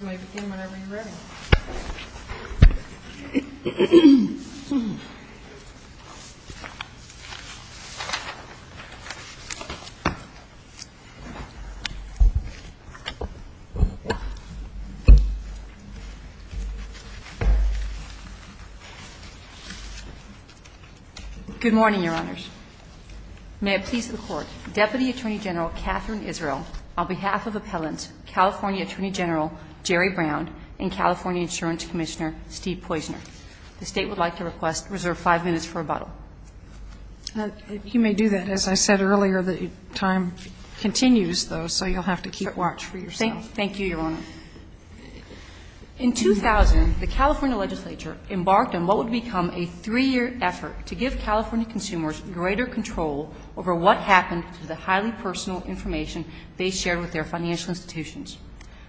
Good morning, Your Honors. May it please the Court, Deputy Attorney General Katherine Israel, on behalf of Appellants, California Attorney General Jerry Brown, and California Insurance Commissioner Steve Poizner. The State would like to request reserve five minutes for rebuttal. You may do that. As I said earlier, the time continues, though, so you'll have to keep watch for yourself. Thank you, Your Honor. In 2000, the California Legislature embarked on what would become a three-year effort to give California consumers greater control over what happened to the highly personal information they shared with their financial institutions.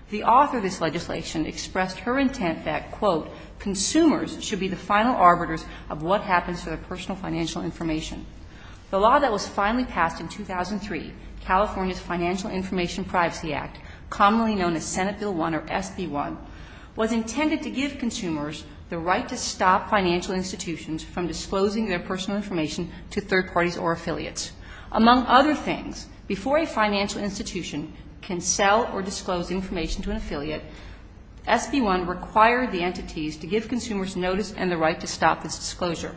The author of this legislation expressed her intent that, quote, consumers should be the final arbiters of what happens to their personal financial information. The law that was finally passed in 2003, California's Financial Information Privacy Act, commonly known as Senate Bill 1 or SB 1, was intended to give consumers the right to stop financial institutions from disclosing their personal information to third parties or affiliates. Among other things, before a financial institution can sell or disclose information to an affiliate, SB 1 required the entities to give consumers notice and the right to stop this disclosure.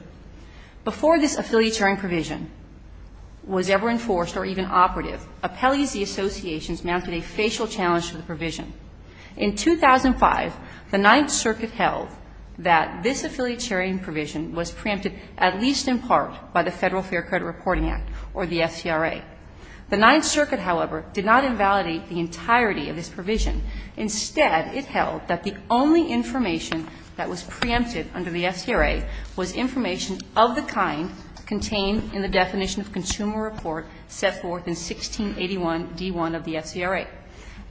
Before this affiliatarian provision was ever enforced or even operative, appellees and associations mounted a facial challenge to the provision. In 2005, the Ninth Circuit held that this affiliatarian provision was preempted, at least in part, by the Federal Fair Credit Reporting Act or the FCRA. The Ninth Circuit, however, did not invalidate the entirety of this provision. Instead, it held that the only information that was preempted under the FCRA was information of the kind contained in the definition of consumer report set forth in 1681d1 of the FCRA.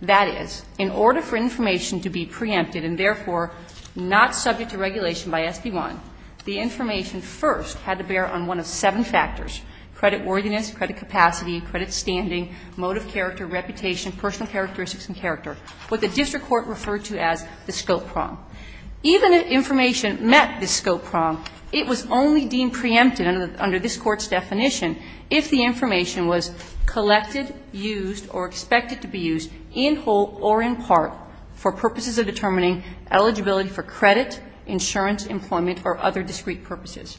That is, in order for information to be preempted and therefore not subject to regulation by SB 1, the information first had to bear on one of seven factors, creditworthiness, credit capacity, credit standing, mode of character, reputation, personal characteristics and character, what the district court referred to as the scope prong. Even if information met the scope prong, it was only deemed preempted under this Court's definition if the information was collected, used or expected to be used in whole or in part for purposes of determining eligibility for credit, insurance, employment or other discrete purposes.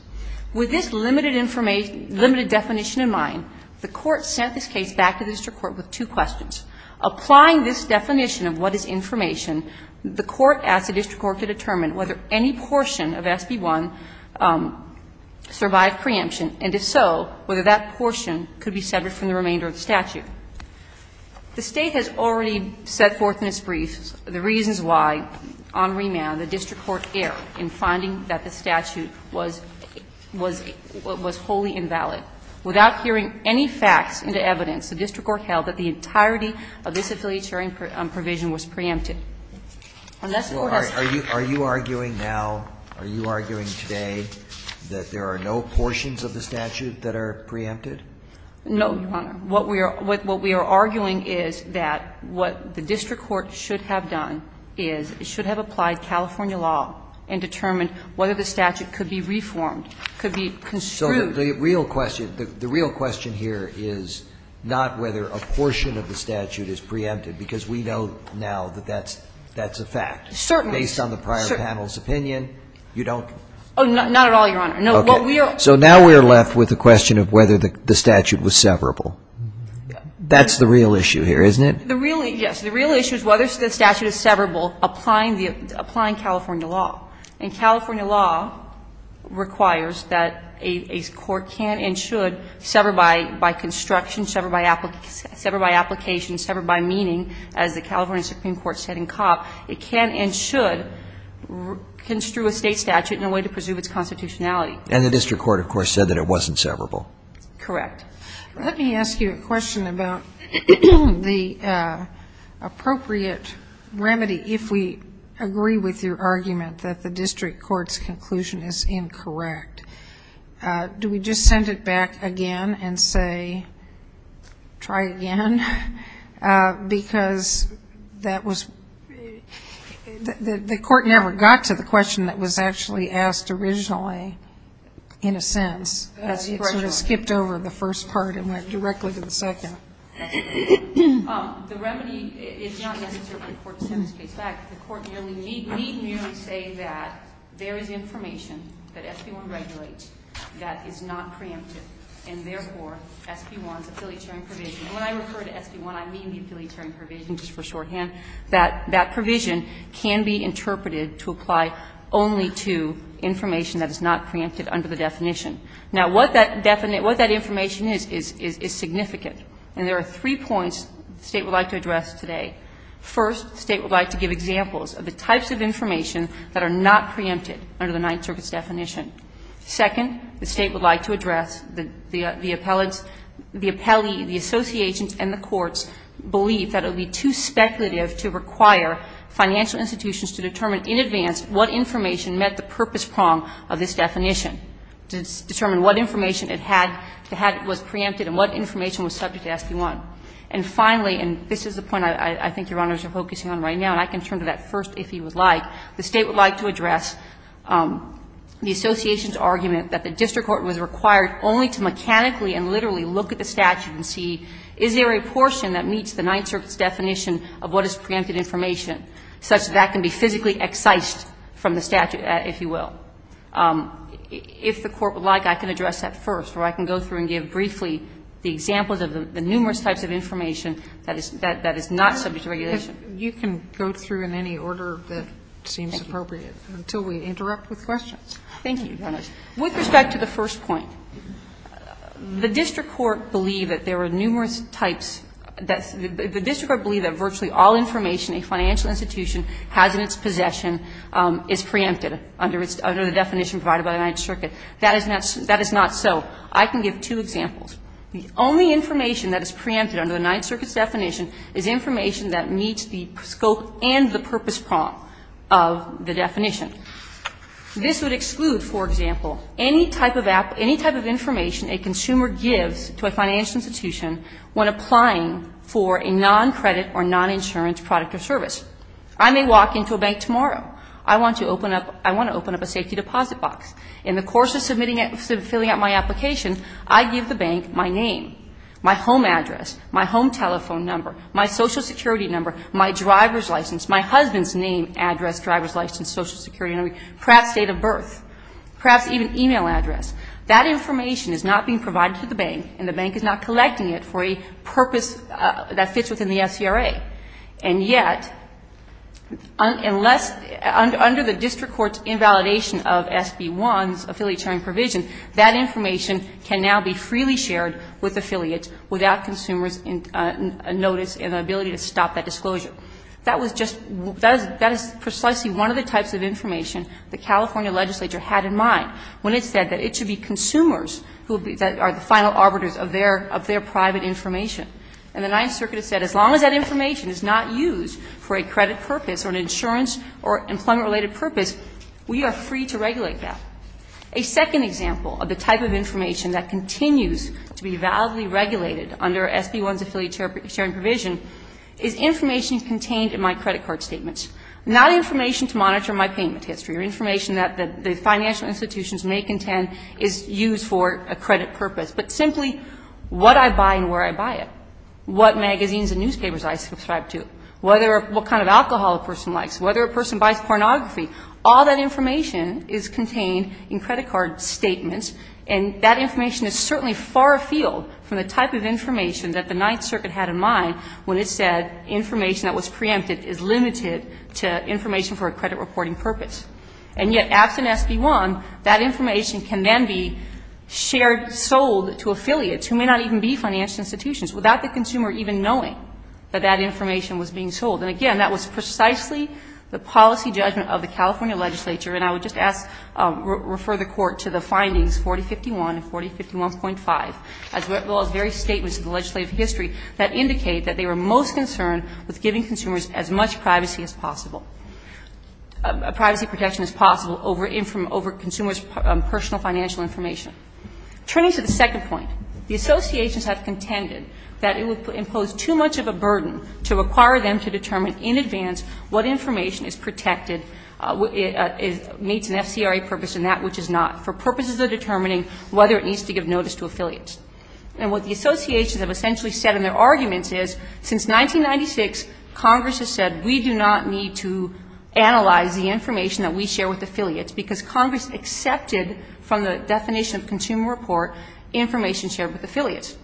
With this limited definition in mind, the Court sent this case back to the district court with two questions. Applying this definition of what is information, the Court asked the district court to determine whether any portion of SB 1 survived preemption, and if so, whether that portion could be severed from the remainder of the statute. The State has already set forth in its brief the reasons why on remand the district court erred in finding that the statute was wholly invalid. Without hearing any facts into evidence, the district court held that the entirety of this affiliatory provision was preempted. Are you arguing now, are you arguing today that there are no portions of the statute that are preempted? No, Your Honor. What we are arguing is that what the district court should have done is it should have applied California law and determined whether the statute could be reformed, could be construed. So the real question, the real question here is not whether a portion of the statute is preempted, because we know now that that's a fact. Certainly. Based on the prior panel's opinion, you don't. Oh, not at all, Your Honor. No, what we are. So now we are left with the question of whether the statute was severable. That's the real issue here, isn't it? The real issue, yes. The real issue is whether the statute is severable applying California law. And California law requires that a court can and should sever by construction, sever by application, sever by meaning, as the California Supreme Court said in Copp, it can and should construe a state statute in a way to preserve its constitutionality. And the district court, of course, said that it wasn't severable. Correct. Let me ask you a question about the appropriate remedy if we agree with your argument that the district court's conclusion is incorrect. Do we just send it back again and say, try again? Because that was the court never got to the question that was actually asked originally, in a sense. It sort of skipped over the first part and went directly to the second. The remedy is not necessarily the court sends the case back. The court merely need merely say that there is information that SB 1 regulates that is not preemptive, and therefore, SB 1's affiliatory provision. When I refer to SB 1, I mean the affiliatory provision just for shorthand. That provision can be interpreted to apply only to information that is not preemptive under the definition. Now, what that definition, what that information is, is significant. And there are three points the State would like to address today. First, the State would like to give examples of the types of information that are not preempted under the Ninth Circuit's definition. Second, the State would like to address the appellate's, the appellee, the association's and the court's belief that it would be too speculative to require financial institutions to determine in advance what information met the purpose prong of this definition, to determine what information it had that was preempted and what information was subject to SB 1. And finally, and this is the point I think Your Honors are focusing on right now and I can turn to that first if you would like, the State would like to address the association's argument that the district court was required only to mechanically and literally look at the statute and see, is there a portion that meets the Ninth Circuit's definition of what is preempted information, such that that can be physically excised from the statute, if you will. If the Court would like, I can address that first, or I can go through and give briefly the examples of the numerous types of information that is not subject to regulation. Sotomayor, you can go through in any order that seems appropriate until we interrupt with questions. Thank you, Your Honors. With respect to the first point, the district court believed that there were numerous types that the district court believed that virtually all information a financial institution has in its possession is preempted under the definition provided by the Ninth Circuit. That is not so. I can give two examples. The only information that is preempted under the Ninth Circuit's definition is information that meets the scope and the purpose prong of the definition. This would exclude, for example, any type of information a consumer gives to a financial institution when applying for a noncredit or noninsurance product or service. I may walk into a bank tomorrow. I want to open up a safety deposit box. In the course of submitting and filling out my application, I give the bank my name, my home address, my home telephone number, my Social Security number, my driver's license, my husband's name, address, driver's license, Social Security number, perhaps date of birth, perhaps even e-mail address. That information is not being provided to the bank, and the bank is not collecting it for a purpose that fits within the SCRA. And yet, unless under the district court's invalidation of SB 1's affiliatory provision, that information can now be freely shared with affiliates without consumers' notice and the ability to stop that disclosure. That was just that is precisely one of the types of information the California legislature had in mind when it said that it should be consumers who are the final arbiters of their private information. And the Ninth Circuit said as long as that information is not used for a credit purpose or an insurance or employment-related purpose, we are free to regulate that. A second example of the type of information that continues to be validly regulated under SB 1's affiliate sharing provision is information contained in my credit card statements, not information to monitor my payment history or information that the financial institutions may contend is used for a credit purpose, but simply what I buy and where I buy it, what magazines and newspapers I subscribe to, what kind of alcohol a person likes, whether a person buys pornography. All that information is contained in credit card statements, and that information is certainly far afield from the type of information that the Ninth Circuit had in mind when it said information that was preempted is limited to information for a credit reporting purpose. And yet, absent SB 1, that information can then be shared, sold to affiliates who may not even be financial institutions, without the consumer even knowing that that information was being sold. And, again, that was precisely the policy judgment of the California legislature and I would just ask, refer the Court to the findings 4051 and 4051.5, as well as various statements in the legislative history that indicate that they were most concerned with giving consumers as much privacy as possible. Privacy protection as possible over consumers' personal financial information. Turning to the second point, the associations have contended that it would impose too much of a burden to require them to determine in advance what information is protected, meets an FCRA purpose and that which is not, for purposes of determining whether it needs to give notice to affiliates. And what the associations have essentially said in their arguments is, since 1996, Congress has said we do not need to analyze the information that we share with affiliates because Congress accepted from the definition of consumer report information shared with affiliates.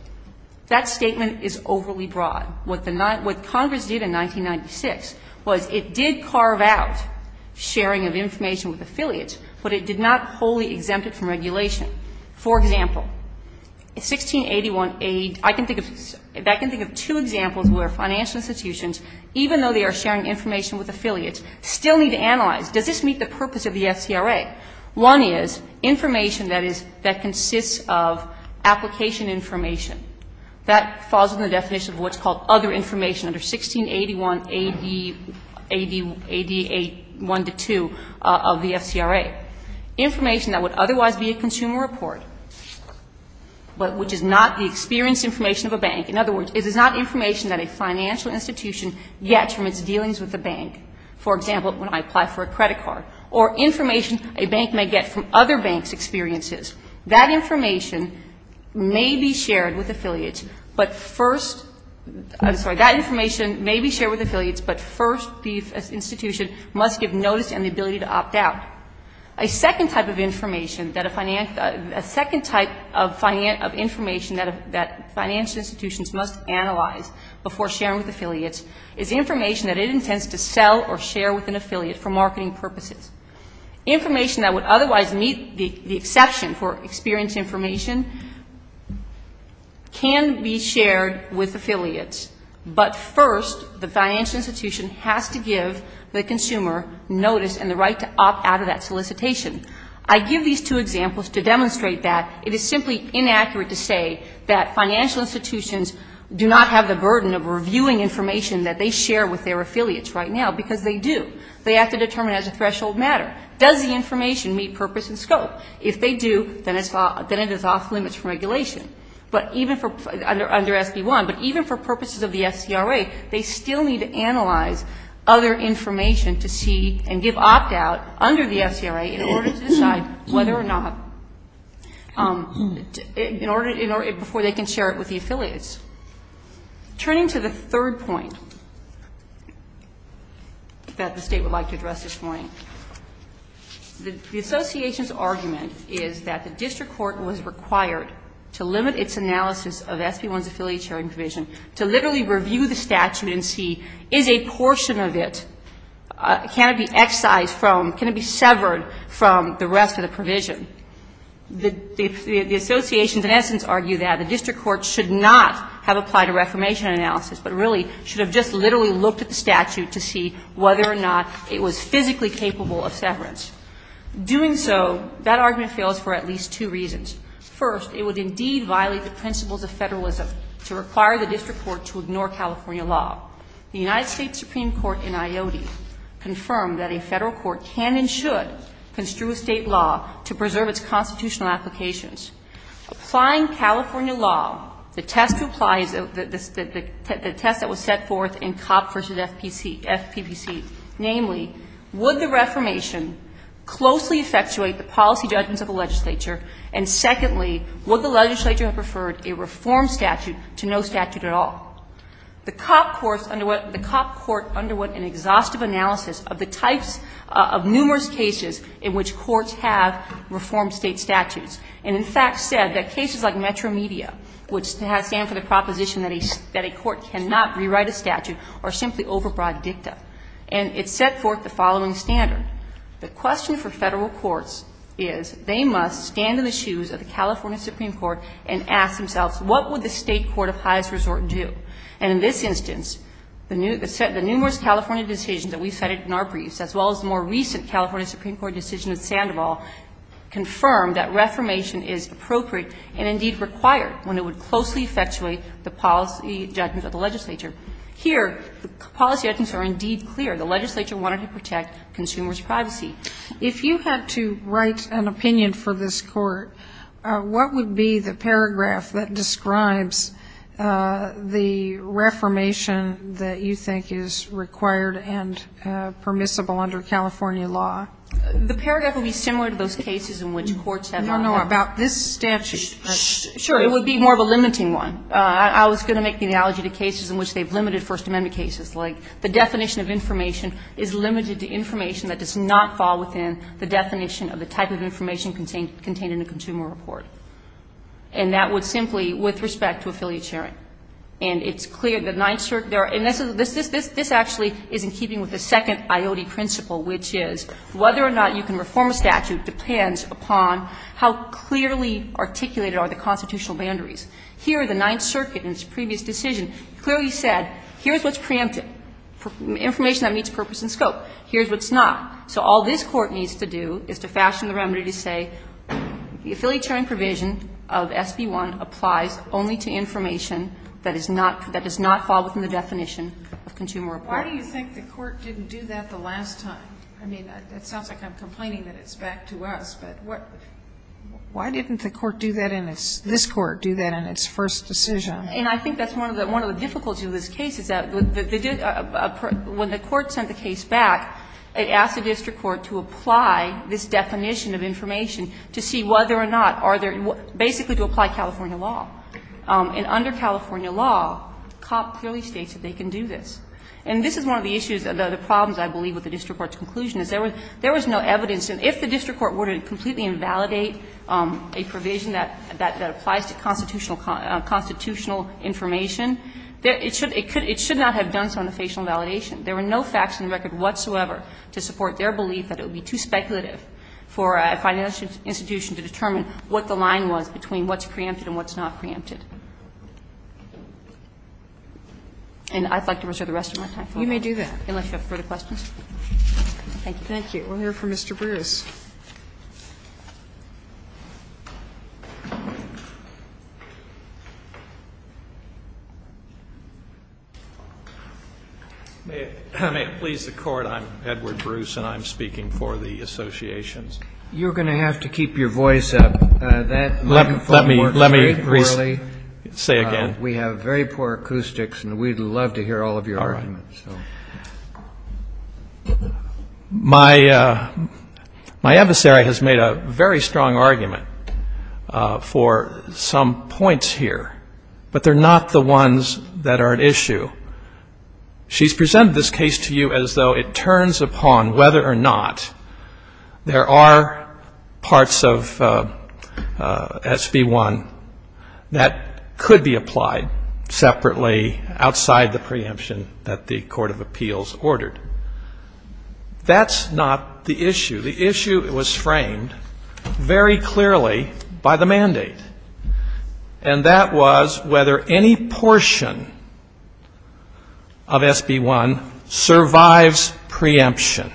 That statement is overly broad. What Congress did in 1996 was it did carve out sharing of information with affiliates, but it did not wholly exempt it from regulation. For example, 1681A, I can think of two examples where financial institutions even though they are sharing information with affiliates still need to analyze does this meet the purpose of the FCRA. One is information that is, that consists of application information. That falls in the definition of what's called other information under 1681A, AD 1 to 2 of the FCRA. Information that would otherwise be a consumer report, but which is not the experience information of a bank. In other words, it is not information that a financial institution gets from its dealings with a bank. For example, when I apply for a credit card. Or information a bank may get from other banks' experiences. That information may be shared with affiliates, but first, I'm sorry, that information may be shared with affiliates, but first the institution must give notice and the ability to opt out. A second type of information that a financial, a second type of information that financial institutions must analyze before sharing with affiliates is information that it intends to sell or share with an affiliate for marketing purposes. Information that would otherwise meet the exception for experience information can be shared with affiliates, but first the financial institution has to give the consumer notice and the right to opt out of that solicitation. I give these two examples to demonstrate that it is simply inaccurate to say that financial institutions do not have the burden of reviewing information that they share with their affiliates right now, because they do. They have to determine it as a threshold matter. Does the information meet purpose and scope? If they do, then it is off limits for regulation. But even for, under SB 1, but even for purposes of the FCRA, they still need to analyze other information to see and give opt out under the FCRA in order to decide whether or not, in order, before they can share it with the affiliates. Turning to the third point that the State would like to address this morning, the association's argument is that the district court was required to limit its analysis of SB 1's affiliate sharing provision, to literally review the statute and see, is a can it be excised from, can it be severed from the rest of the provision? The associations in essence argue that the district court should not have applied a reformation analysis, but really should have just literally looked at the statute to see whether or not it was physically capable of severance. Doing so, that argument fails for at least two reasons. First, it would indeed violate the principles of federalism to require the district court to ignore California law. The United States Supreme Court in IOTI confirmed that a federal court can and should construe a State law to preserve its constitutional applications. Applying California law, the test to apply is the test that was set forth in COP versus FPPC, namely, would the reformation closely effectuate the policy judgments of the legislature, and secondly, would the legislature have preferred a reform statute to no statute at all? The COP court underwent an exhaustive analysis of the types of numerous cases in which courts have reformed State statutes, and in fact said that cases like Metro Media would stand for the proposition that a court cannot rewrite a statute or simply overbroad dicta. And it set forth the following standard. The question for federal courts is they must stand in the shoes of the California Supreme Court and ask themselves, what would the State court of highest resort do? And in this instance, the numerous California decisions that we cited in our briefs as well as the more recent California Supreme Court decision in Sandoval confirmed that reformation is appropriate and indeed required when it would closely effectuate the policy judgments of the legislature. Here, the policy judgments are indeed clear. The legislature wanted to protect consumers' privacy. Sotomayor, if you had to write an opinion for this Court, what would be the paragraph that describes the reformation that you think is required and permissible under California law? The paragraph would be similar to those cases in which courts have not had. No, no. About this statute. Sure. It would be more of a limiting one. I was going to make the analogy to cases in which they've limited First Amendment cases, like the definition of information is limited to information that does not fall within the definition of the type of information contained in a consumer report. And that would simply, with respect to affiliate sharing. And it's clear that Ninth Circuit, and this actually is in keeping with the second IOD principle, which is whether or not you can reform a statute depends upon how clearly articulated are the constitutional boundaries. Here, the Ninth Circuit, in its previous decision, clearly said, here's what's preemptive, information that meets purpose and scope. Here's what's not. So all this Court needs to do is to fashion the remedy to say the affiliate sharing provision of SB 1 applies only to information that is not, that does not fall within the definition of consumer report. Why do you think the Court didn't do that the last time? I mean, it sounds like I'm complaining that it's back to us, but what? Why didn't the Court do that in its, this Court do that in its first decision? And I think that's one of the, one of the difficulties of this case is that the, when the Court sent the case back, it asked the district court to apply this definition of information to see whether or not are there, basically to apply California law. And under California law, COP clearly states that they can do this. And this is one of the issues, the problems, I believe, with the district court's conclusion is there was, there was no evidence. And if the district court were to completely invalidate a provision that, that applies to constitutional, constitutional information, it should, it could, it should not have done so in the facial validation. There were no facts in the record whatsoever to support their belief that it would be too speculative for a financial institution to determine what the line was between what's preempted and what's not preempted. And I'd like to reserve the rest of my time. You may do that. Unless you have further questions. Thank you. We'll hear from Mr. Bruce. May it please the Court, I'm Edward Bruce and I'm speaking for the associations. You're going to have to keep your voice up. That microphone works very poorly. Let me, let me say again. We have very poor acoustics and we'd love to hear all of your arguments. All right. My, my adversary has made a very strong argument for some points here, but they're not the ones that are at issue. She's presented this case to you as though it turns upon whether or not there are parts of SB1 that could be applied separately outside the preemption that the executive appeals ordered. That's not the issue. The issue was framed very clearly by the mandate. And that was whether any portion of SB1 survives preemption.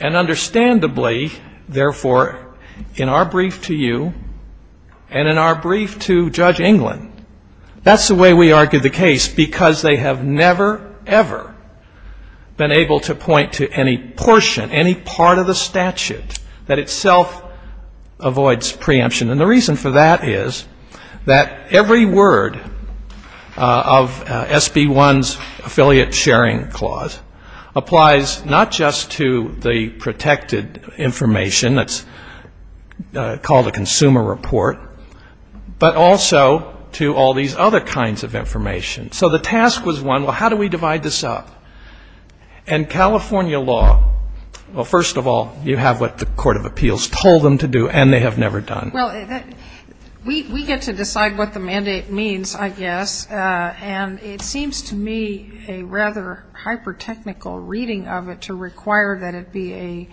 And understandably, therefore, in our brief to you and in our brief to Judge England, that's the way we argued the case because they have never, ever been able to point to any portion, any part of the statute that itself avoids preemption. And the reason for that is that every word of SB1's affiliate sharing clause applies not just to the kinds of information. So the task was one, well, how do we divide this up? And California law, well, first of all, you have what the court of appeals told them to do and they have never done. Well, we get to decide what the mandate means, I guess. And it seems to me a rather hyper-technical reading of it to require that it be a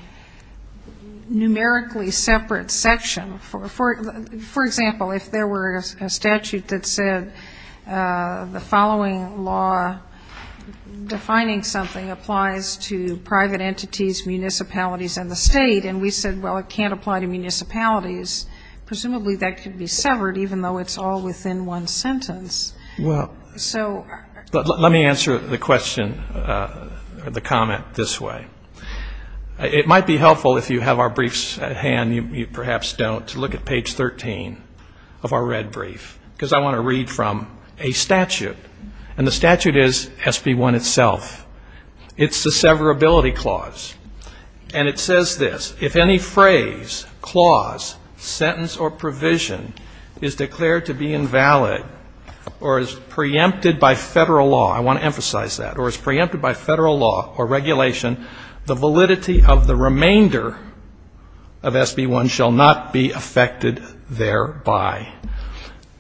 numerically separate section. For example, if there were a statute that said the following law defining something applies to private entities, municipalities, and the state, and we said, well, it can't apply to municipalities, presumably that could be severed even though it's all within one sentence. Well, let me answer the question or the comment this way. It might be helpful if you have our briefs at hand, you perhaps don't, to look at page 13 of our red brief because I want to read from a statute. And the statute is SB1 itself. It's the severability clause. And it says this, if any phrase, clause, sentence, or provision is declared to be invalid or is preempted by federal law, I want to emphasize that, or is preempted by federal law or regulation, the validity of the remainder of SB1 shall not be affected thereby.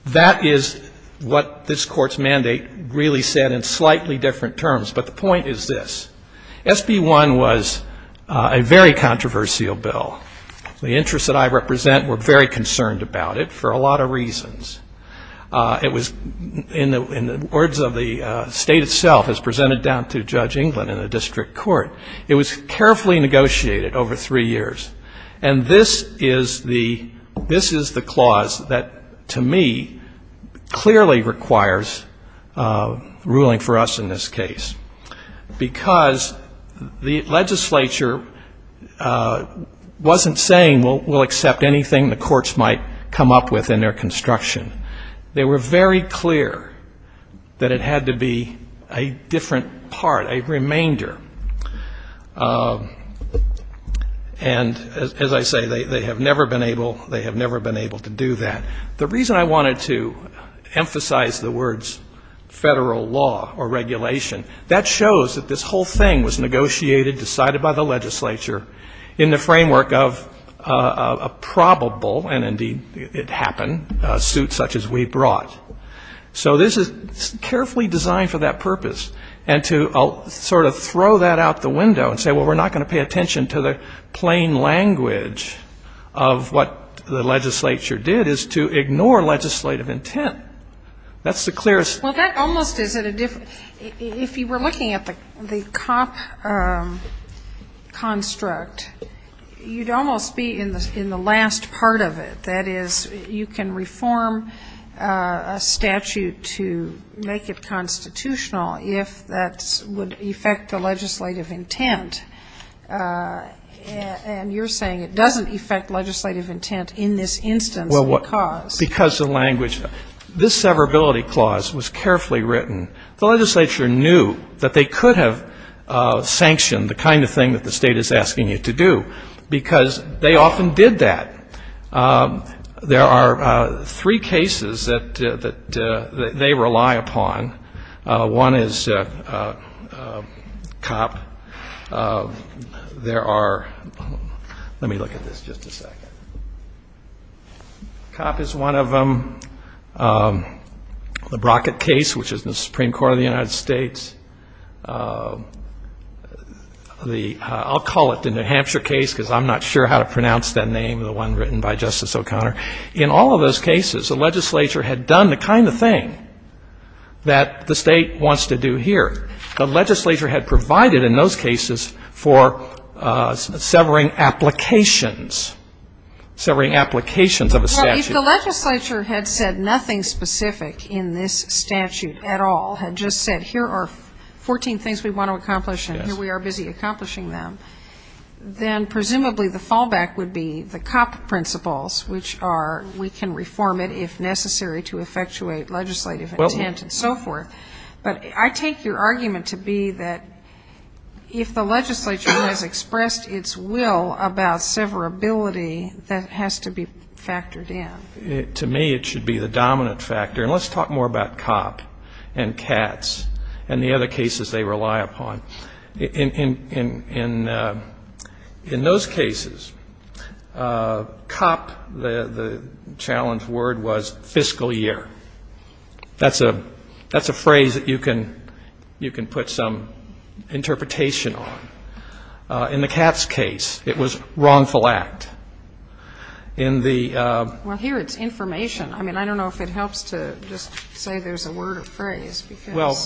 That is what this Court's mandate really said in slightly different terms. But the point is this. SB1 was a very controversial bill. The interests that I represent were very concerned about it for a lot of reasons. It was, in the words of the State itself, as presented down to Judge England in the district court, it was carefully negotiated over three years. And this is the clause that, to me, clearly requires ruling for us in this case. Because the legislature wasn't saying, we'll accept anything the courts might come up with in their construction. They were very clear that it had to be a different part, a remainder. And as I say, they have never been able to do that. The reason I wanted to emphasize the words federal law or regulation, that shows that this whole thing was negotiated, decided by the legislature in the framework of a probable, and indeed it happened, suit such as we brought. So this is carefully designed for that purpose. And to sort of throw that out the window and say, well, we're not going to pay attention to the plain language of what the legislature did is to ignore legislative intent. That's the clearest thing. If you were looking at the cop construct, you'd almost be in the last part of it. That is, you can reform a statute to make it constitutional, if that would affect the legislative intent. And you're saying it doesn't affect legislative intent in this instance because of language. This severability clause was carefully written. The legislature knew that they could have sanctioned the kind of thing that the state is asking you to do because they often did that. There are three cases that they rely upon. One is cop. There are, let me look at this just a second. Cop is one of them. The Brockett case, which is in the Supreme Court of the United States. I'll call it the New Hampshire case because I'm not sure how to pronounce that name, the one written by Justice O'Connor. In all of those cases, the legislature had done the kind of thing that the state wants to do here. The legislature had provided in those cases for severing applications, severing applications of a statute. Well, if the legislature had said nothing specific in this statute at all, had just said here are 14 things we want to accomplish and here we are busy accomplishing them, then presumably the fallback would be the cop principles, which are we can reform it if necessary to effectuate legislative intent and so forth. But I take your argument to be that if the legislature has expressed its will about severability, that has to be factored in. To me, it should be the dominant factor. And let's talk more about cop and cats and the other cases they rely upon. In those cases, cop, the challenge word was fiscal year. That's a phrase that you can put some interpretation on. In the cats case, it was wrongful act. In the ---- Well, here it's information. I mean, I don't know if it helps to just say there's a word or phrase because ---- Well,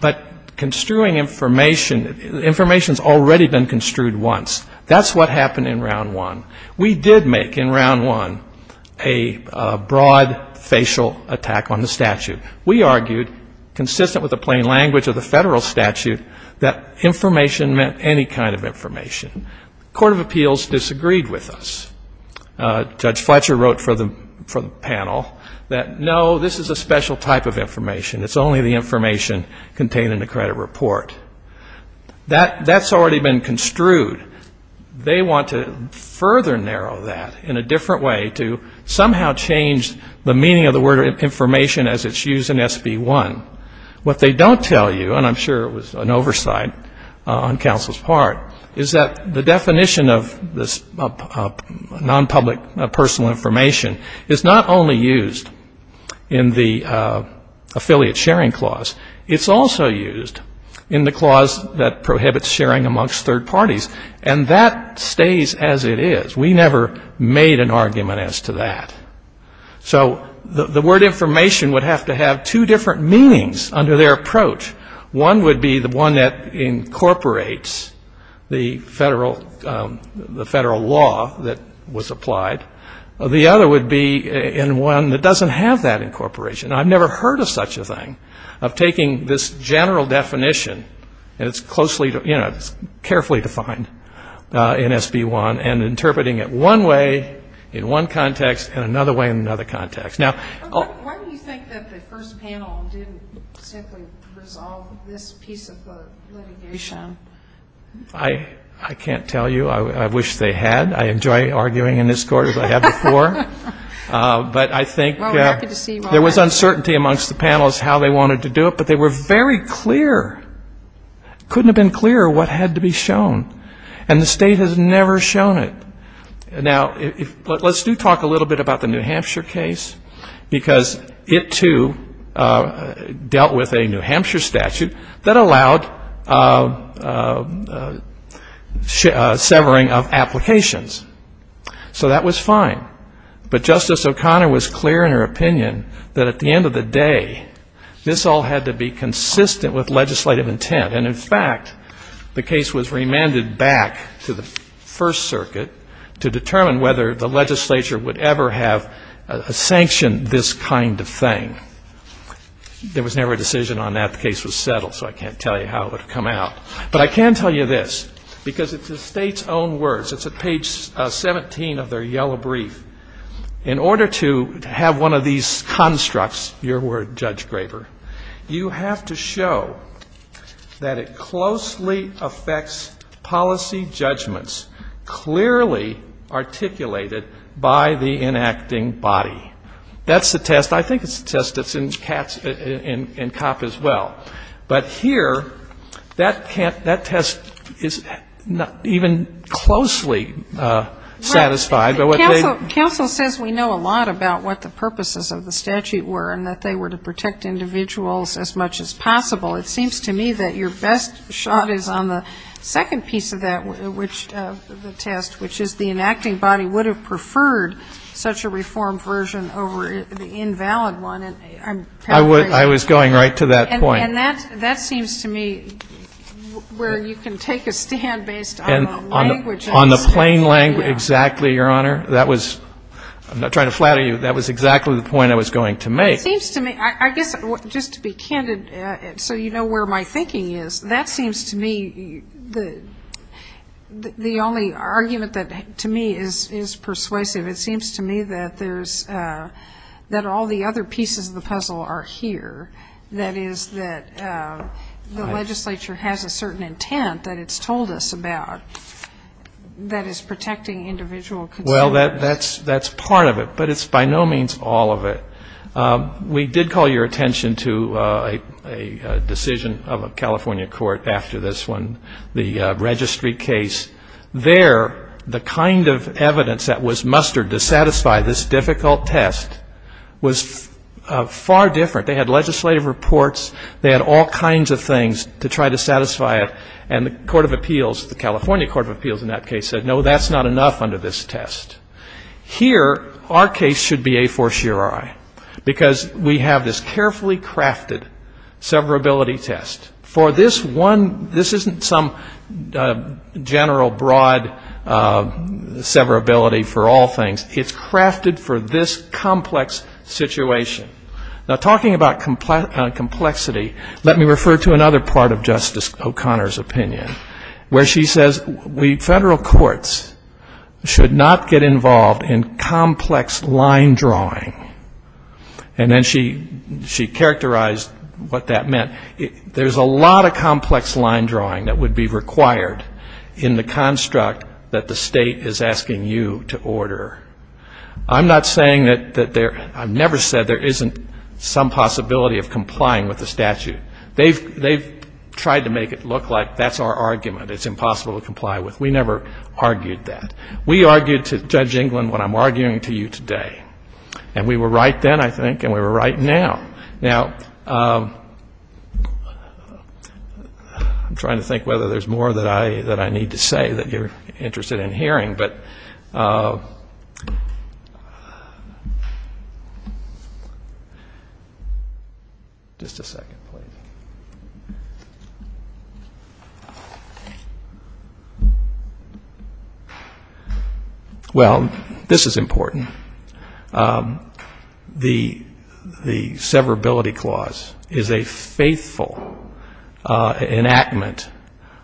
but construing information, information's already been construed once. That's what happened in Round 1. We did make in Round 1 a broad facial attack on the statute. We argued, consistent with the plain language of the federal statute, that information meant any kind of information. The Court of Appeals disagreed with us. Judge Fletcher wrote for the panel that, no, this is a special type of information. It's only the information contained in the credit report. That's already been construed. They want to further narrow that in a different way to somehow change the meaning of the word information as it's used in SB 1. What they don't tell you, and I'm sure it was an oversight on counsel's part, is that the definition of this nonpublic personal information is not only used in the affiliate sharing clause. It's also used in the clause that prohibits sharing amongst third parties. And that stays as it is. We never made an argument as to that. So the word information would have to have two different meanings under their approach. One would be the one that incorporates the federal law that was applied. The other would be in one that doesn't have that incorporation. I've never heard of such a thing, of taking this general definition, and it's closely, you know, it's carefully defined in SB 1, and interpreting it one way in one context and another way in another context. Now why do you think that the first panel didn't simply resolve this piece of litigation? I can't tell you. I wish they had. I enjoy arguing in this court as I have before. But I think there was uncertainty amongst the panels how they wanted to do it, but they were very clear, couldn't have been clearer what had to be shown. And the state has never shown it. Now, let's do talk a little bit about the New Hampshire case, because it, too, dealt with a New Hampshire statute that allowed severing of applications. So that was fine. But Justice O'Connor was clear in her opinion that at the end of the day, this all had to be consistent with legislative intent. And in fact, the case was remanded back to the First Circuit to determine whether the legislature would ever have sanctioned this kind of thing. There was never a decision on that. The case was settled, so I can't tell you how it would have come out. But I can tell you this, because it's the State's own words. It's at page 17 of their yellow brief. In order to have one of these constructs, your word, Judge Graber, you have to show that it closely affects policy judgments clearly articulated by the enacting body. That's the test. I think it's the test that's in COP as well. But here, that test is not even closely satisfied by what they do. Counsel says we know a lot about what the purposes of the statute were and that they were to protect individuals as much as possible. It seems to me that your best shot is on the second piece of that, the test, which is the enacting body would have preferred such a reformed version over the invalid And I'm paraphrasing. I was going right to that point. And that seems to me where you can take a stand based on the language of the statute. On the plain language, exactly, Your Honor. I'm not trying to flatter you. That was exactly the point I was going to make. I guess just to be candid so you know where my thinking is, that seems to me the only argument that to me is persuasive. It seems to me that all the other pieces of the puzzle are here, that is, that the legislature has a certain intent that it's told us about that is protecting individual Well, that's part of it. But it's by no means all of it. We did call your attention to a decision of a California court after this one, the registry case. There, the kind of evidence that was mustered to satisfy this difficult test was far different. They had legislative reports. They had all kinds of things to try to satisfy it. And the Court of Appeals, the California Court of Appeals in that case said, no, that's not enough under this test. Here, our case should be a fortiori because we have this carefully crafted severability test. For this one, this isn't some general broad severability for all things. It's crafted for this complex situation. Now, talking about complexity, let me refer to another part of Justice O'Connor's opinion, where she says we federal courts should not get involved in complex line drawing. And then she characterized what that meant. There's a lot of complex line drawing that would be required in the construct that the state is asking you to order. I'm not saying that there, I've never said there isn't some possibility of complying with the statute. They've tried to make it look like that's our argument, it's impossible to comply with. We never argued that. We argued to Judge England what I'm arguing to you today. And we were right then, I think, and we were right now. Now, I'm trying to think whether there's more that I need to say that you're interested in hearing, but just a second, please. Well, this is important. The severability clause is a faithful enactment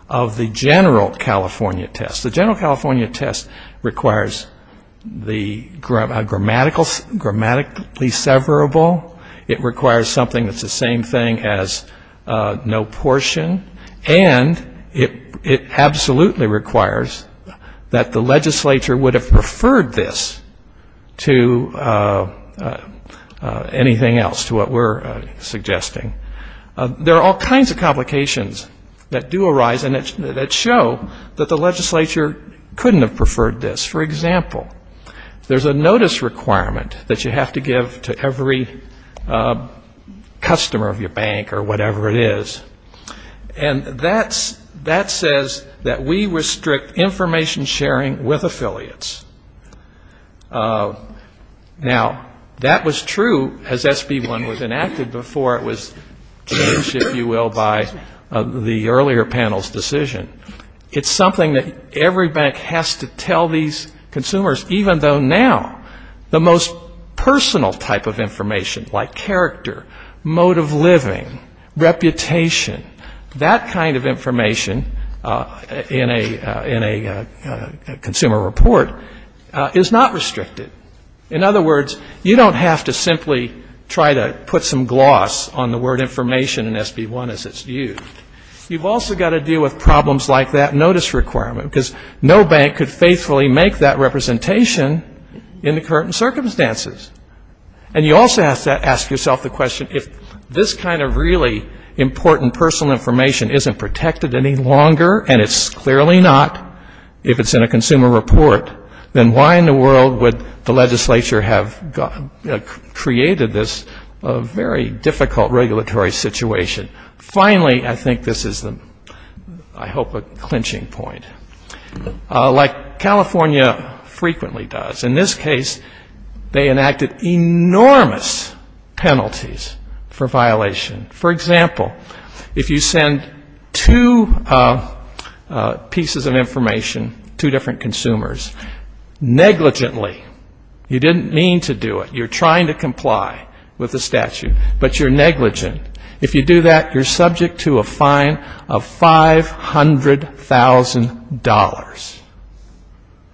of the general California test. The general California test requires the grammatically severable. It requires something that's the same thing as no portion. And it absolutely requires that the legislature would have preferred this to anything else, to what we're suggesting. There are all kinds of complications that do arise and that show that the legislature couldn't have preferred this. For example, there's a notice requirement that you have to give to every customer of your bank or whatever it is, and that says that we restrict information sharing with affiliates. Now, that was true as SB1 was enacted before it was changed, if you will, by the earlier panel's decision. It's something that every bank has to tell these consumers, even though now the most personal type of information, like character, mode of living, reputation, that kind of information in a consumer report is not restricted. In other words, you don't have to simply try to put some gloss on the word information in SB1 as it's used. You've also got to deal with problems like that notice requirement, because no bank could faithfully make that representation in the current circumstances. And you also have to ask yourself the question, if this kind of really important personal information isn't protected any longer, and it's clearly not, if it's in a consumer report, then why in the world would the legislature have created this very difficult regulatory situation? Finally, I think this is, I hope, a clinching point, like California frequently does. In this case, they enacted enormous penalties for violation. For example, if you send two pieces of information to different consumers, negligently, you didn't mean to do it. You're trying to comply with the statute, but you're negligent. If you do that, you're subject to a fine of $500,000,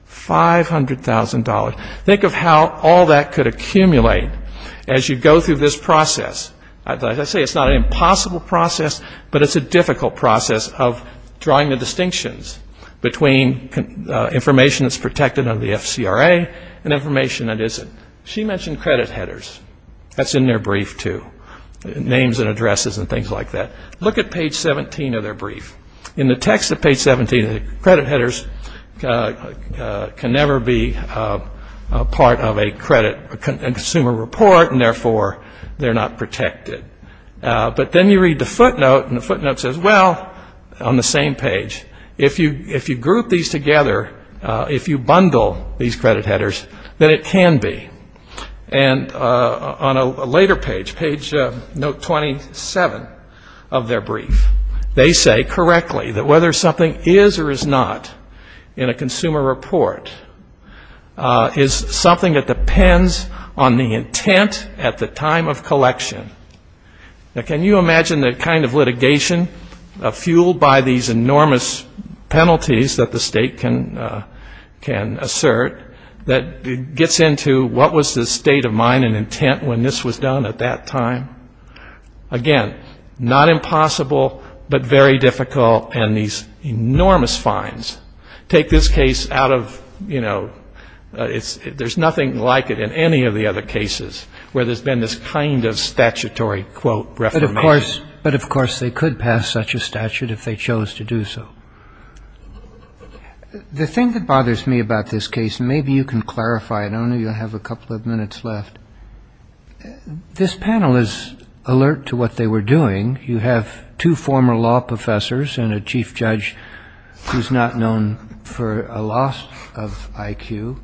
$500,000. Think of how all that could accumulate as you go through this process. As I say, it's not an impossible process, but it's a difficult process of drawing the distinctions between information that's in credit headers. That's in their brief, too, names and addresses and things like that. Look at page 17 of their brief. In the text of page 17, the credit headers can never be part of a consumer report, and therefore they're not protected. But then you read the footnote, and the footnote says, well, on the same page, if you group these together, if you bundle these credit headers, then it can be. And on a later page, page note 27 of their brief, they say correctly that whether something is or is not in a consumer report is something that depends on the intent at the time of collection. Now, can you imagine the kind of litigation fueled by these enormous penalties that the state can impose? Can assert that it gets into what was the state of mind and intent when this was done at that time? Again, not impossible, but very difficult, and these enormous fines take this case out of, you know, there's nothing like it in any of the other cases where there's been this kind of statutory, quote, reformation. But of course they could pass such a statute if they chose to do so. The thing that bothers me about this case, and maybe you can clarify it, I know you have a couple of minutes left, this panel is alert to what they were doing. You have two former law professors and a chief judge who's not known for a loss of IQ,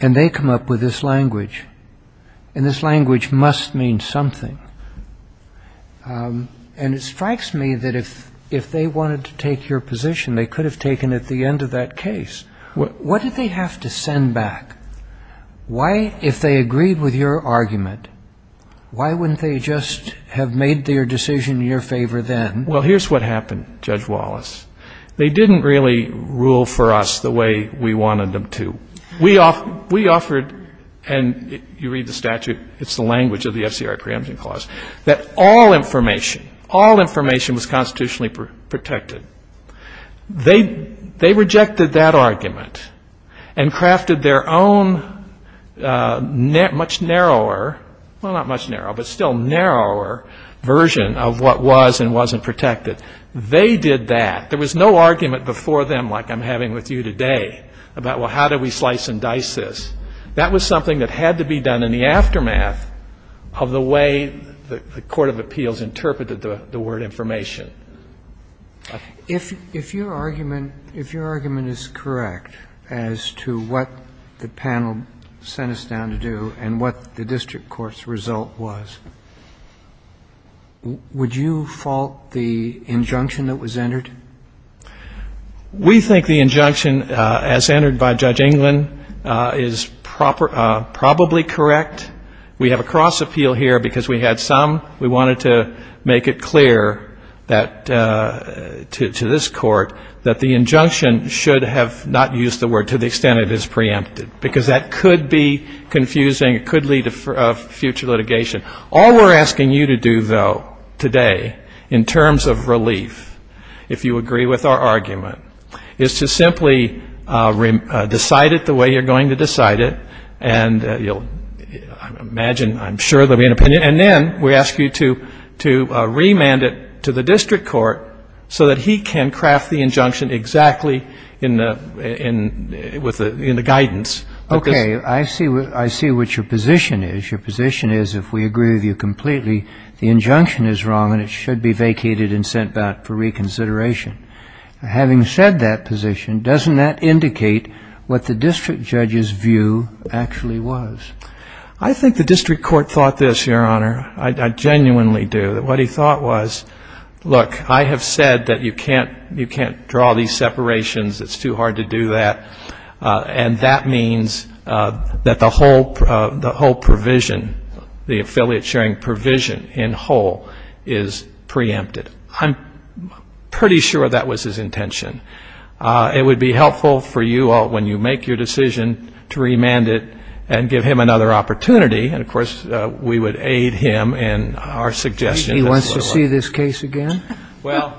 and they come up with this language. And this language must mean something. And it strikes me that if they wanted to take your position, they could have taken it at the end of that case. What did they have to send back? Why, if they agreed with your argument, why wouldn't they just have made their decision in your favor then? Well, here's what happened, Judge Wallace. They didn't really rule for us the way we wanted them to. We offered, and you read the statute, it's the language of the FCRI preemption clause, that all information, all information was constitutionally protected. They rejected that argument and crafted their own much narrower, well, not much narrower, but still narrower version of what was and wasn't protected. They did that. There was no argument before them like I'm having with you today about, well, how do we slice and dice this? That was something that had to be done in the aftermath of the way the court of appeals interpreted the word information. If your argument is correct as to what the panel sent us down to do and what the district court's result was, would you fault the injunction that was entered? We think the injunction as entered by Judge England is probably correct. We have a cross appeal here because we had some. We wanted to make it clear to this Court that the injunction should have not used the word to the extent it is preempted, because that could be confusing, it could lead to future litigation. All we're asking you to do, though, today, in terms of relief, if you agree with our argument, is to simply decide it the way you're going to decide it, and you'll imagine, I'm sure, there will be an opinion, and then we ask you to remand it to the district court so that he can craft the injunction exactly in the guidance of the district court. Okay. I see what your position is. Your position is if we agree with you completely, the injunction is wrong and it should be vacated and sent back for reconsideration. Having said that position, doesn't that indicate what the district judge's view actually was? I think the district court thought this, Your Honor. I genuinely do. What he thought was, look, I have said that you can't draw these separations, it's too hard to do that, and that means that the whole provision, the affiliate sharing provision in whole, is preempted. I'm pretty sure that was his intention. It would be helpful for you all, when you make your decision, to remand it and give him another opportunity, and, of course, we would aid him in our suggestion. He wants to see this case again? Well,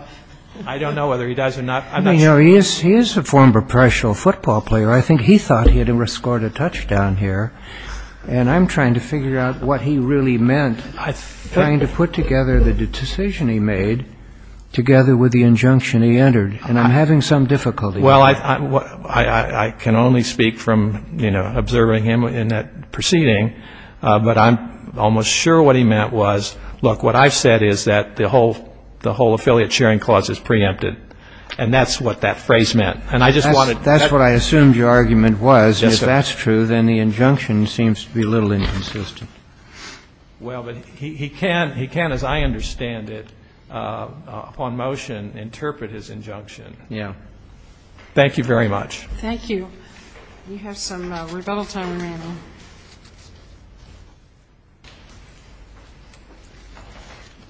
I don't know whether he does or not. I'm not sure. He is a former professional football player. I think he thought he had scored a touchdown here, and I'm trying to figure out what he really meant, trying to put together the decision he made together with the injunction he entered, and I'm having some difficulty. Well, I can only speak from, you know, observing him in that proceeding, but I'm almost sure what he meant was, look, what I've said is that the whole affiliate sharing clause is preempted, and that's what that phrase meant. That's what I assumed your argument was, and if that's true, then the injunction seems to be a little inconsistent. Well, but he can, as I understand it, upon motion, interpret his injunction. Thank you very much. Thank you. We have some rebuttal time remaining.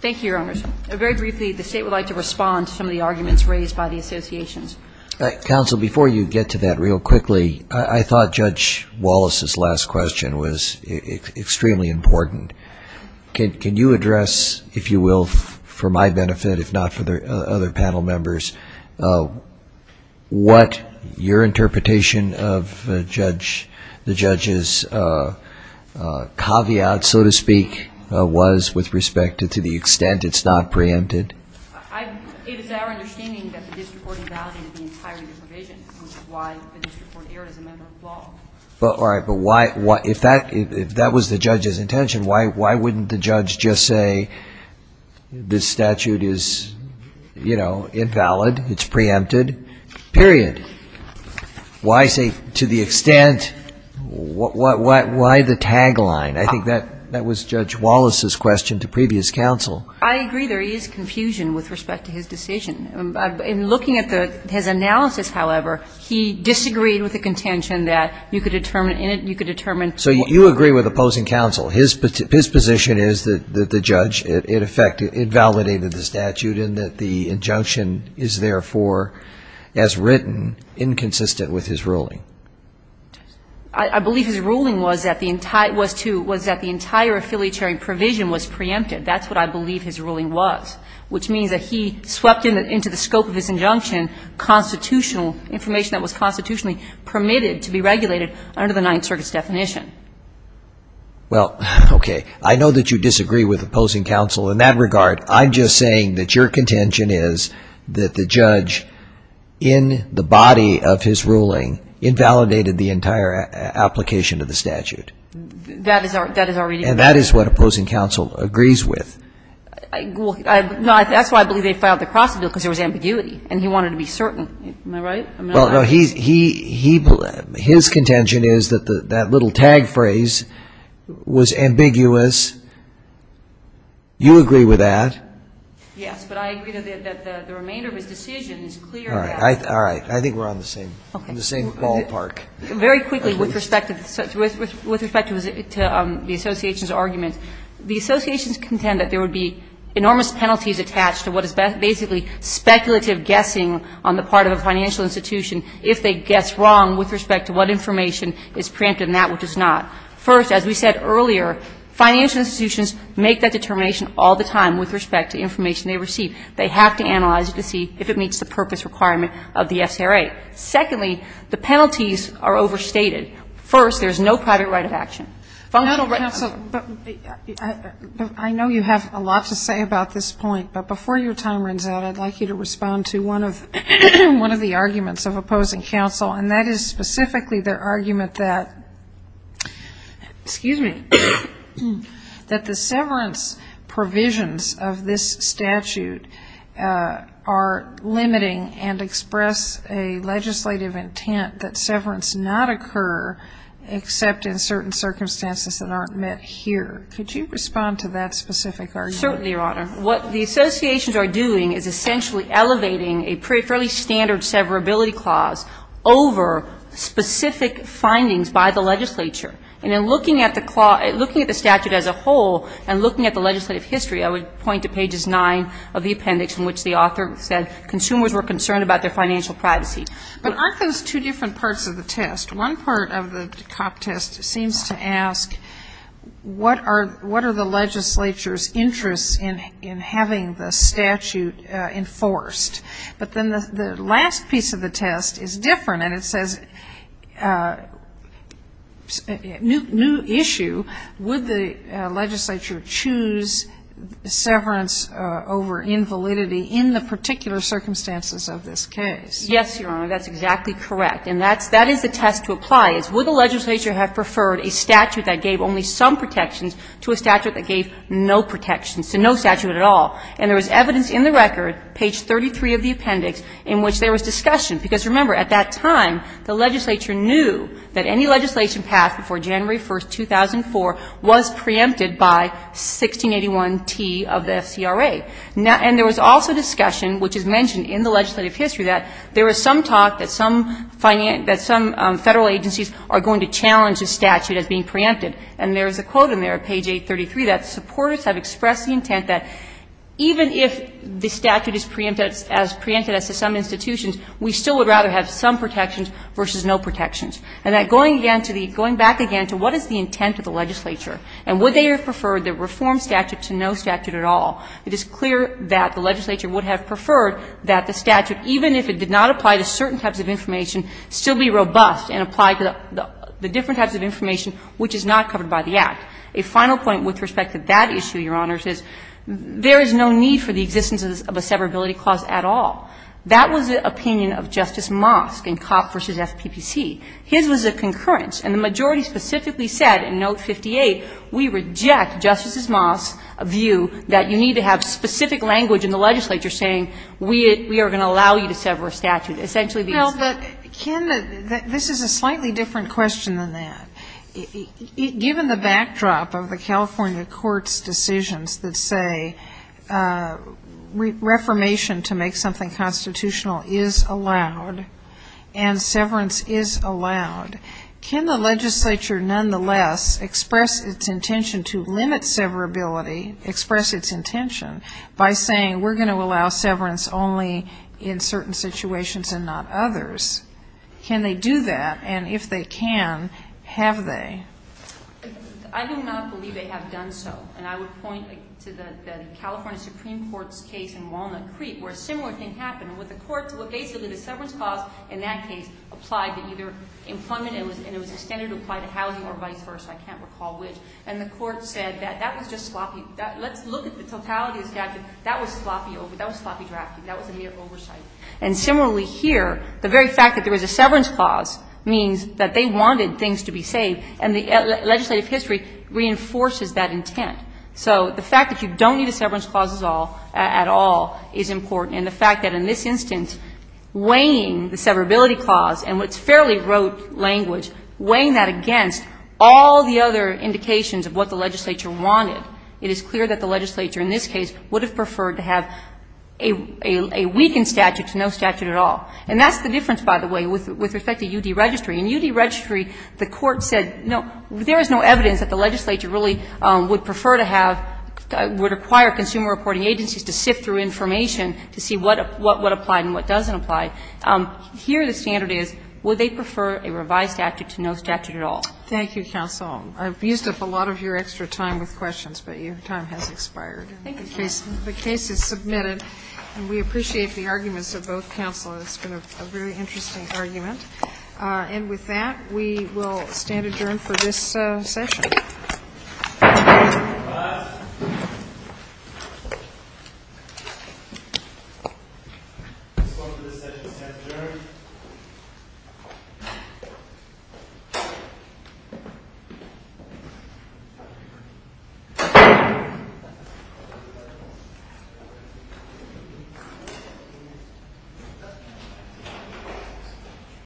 Thank you, Your Honors. Very briefly, the State would like to respond to some of the arguments raised by the associations. Counsel, before you get to that, real quickly, I thought Judge Wallace's last question was extremely important. Can you address, if you will, for my benefit, if not for other panel members, what your interpretation of the judge's caveat, so to speak, was with respect to the extent it's not preempted? It is our understanding that the district court invalidated the entire provision, which is why the district court erred as a member of the law. All right, but if that was the judge's intention, why wouldn't the judge just say this statute is, you know, invalid, it's preempted, period? Why say to the extent? Why the tagline? I think that was Judge Wallace's question to previous counsel. I agree there is confusion with respect to his decision. In looking at his analysis, however, he disagreed with the contention that you could determine So you agree with opposing counsel. His position is that the judge, in effect, invalidated the statute and that the injunction is therefore, as written, inconsistent with his ruling. I believe his ruling was that the entire affiliatory provision was preempted. That's what I believe his ruling was, which means that he swept into the scope of his injunction constitutional information that was constitutionally permitted to be regulated under the Ninth Circuit's definition. Well, okay, I know that you disagree with opposing counsel in that regard. I'm just saying that your contention is that the judge, in the body of his ruling, invalidated the entire application of the statute. That is our reading. And that is what opposing counsel agrees with. That's why I believe they filed the Crossing Bill, because there was ambiguity and he wanted to be certain. His contention is that that little tag phrase was ambiguous. You agree with that. Yes, but I agree that the remainder of his decision is clear. All right. I think we're on the same ballpark. Very quickly, with respect to the association's argument, the associations contend that there would be enormous penalties attached to what is basically speculative guessing on the part of a financial institution if they guess wrong with respect to what information is preempted and that which is not. First, as we said earlier, financial institutions make that determination all the time with respect to information they receive. They have to analyze it to see if it meets the purpose requirement of the FCRA. Secondly, the penalties are overstated. First, there's no private right of action. Functional right of action. But, counsel, I know you have a lot to say about this point, but before your time runs out, I'd like you to respond to one of the arguments of opposing counsel, and that is specifically their argument that, excuse me, that the severance provisions of this statute are limiting and express a legislative intent that severance not occur except in certain circumstances that aren't met here. Could you respond to that specific argument? Certainly, Your Honor. What the associations are doing is essentially elevating a fairly standard severability clause over specific findings by the legislature. And in looking at the statute as a whole and looking at the legislative history, I would point to pages 9 of the appendix in which the author said consumers were concerned about their financial privacy. But aren't those two different parts of the test? One part of the test seems to ask what are the legislature's interests in having the statute enforced? But then the last piece of the test is different, and it says new issue. Would the legislature choose severance over invalidity in the particular circumstances of this case? Yes, Your Honor. That's exactly correct. And that is the test to apply. Would the legislature have preferred a statute that gave only some protections to a statute that gave no protections to no statute at all? And there was evidence in the record, page 33 of the appendix, in which there was discussion. Because remember, at that time, the legislature knew that any legislation passed before January 1, 2004 was preempted by 1681t of the FCRA. And there was also discussion, which is mentioned in the legislative history, that there was some talk that some federal agencies are going to challenge a statute as being preempted. And there is a quote in there, page 833, that supporters have expressed the intent that even if the statute is preempted, as preempted as to some institutions, we still would rather have some protections versus no protections. And that going again to the going back again to what is the intent of the legislature and would they have preferred the reform statute to no statute at all, it is clear that the legislature would have preferred that the statute, even if it did not apply to certain types of information, still be robust and apply to the different types of information which is not covered by the Act. A final point with respect to that issue, Your Honors, is there is no need for the existence of a severability clause at all. That was the opinion of Justice Mosk in Copp v. FPPC. His was a concurrence. And the majority specifically said in Note 58, we reject Justice Mosk's view that you need to have specific language in the legislature saying we are going to allow you to sever a statute, essentially because the statute is preempted. This is a slightly different question than that. Given the backdrop of the California court's decisions that say reformation to make something constitutional is allowed and severance is allowed, can the legislature nonetheless express its intention to limit severability, express its intention by saying we are going to allow severance only in certain situations and not others? Can they do that? And if they can, have they? I do not believe they have done so. And I would point to the California Supreme Court's case in Walnut Creek where a similar thing happened with the courts. Well, basically the severance clause in that case applied to either employment and it was extended to apply to housing or vice versa. I can't recall which. And the court said that that was just sloppy. Let's look at the totality of the statute. That was sloppy. That was sloppy drafting. That was immediate oversight. And similarly here, the very fact that there was a severance clause means that they wanted things to be saved. And the legislative history reinforces that intent. So the fact that you don't need a severance clause at all is important. And the fact that in this instance, weighing the severability clause and what's fairly rote language, weighing that against all the other indications of what the legislature wanted, it is clear that the legislature in this case would have preferred to have a weakened statute to no statute at all. And that's the difference, by the way, with respect to U.D. Registry. In U.D. Registry, the court said, no, there is no evidence that the legislature really would prefer to have, would require consumer reporting agencies to sift through information to see what applied and what doesn't apply. Here the standard is, would they prefer a revised statute to no statute at all? Sotomayor, Thank you, counsel. I've used up a lot of your extra time with questions, but your time has expired. The case is submitted, and we appreciate the arguments of both counselors. It's been a very interesting argument. And with that, we will stand adjourned for this session. Thank you.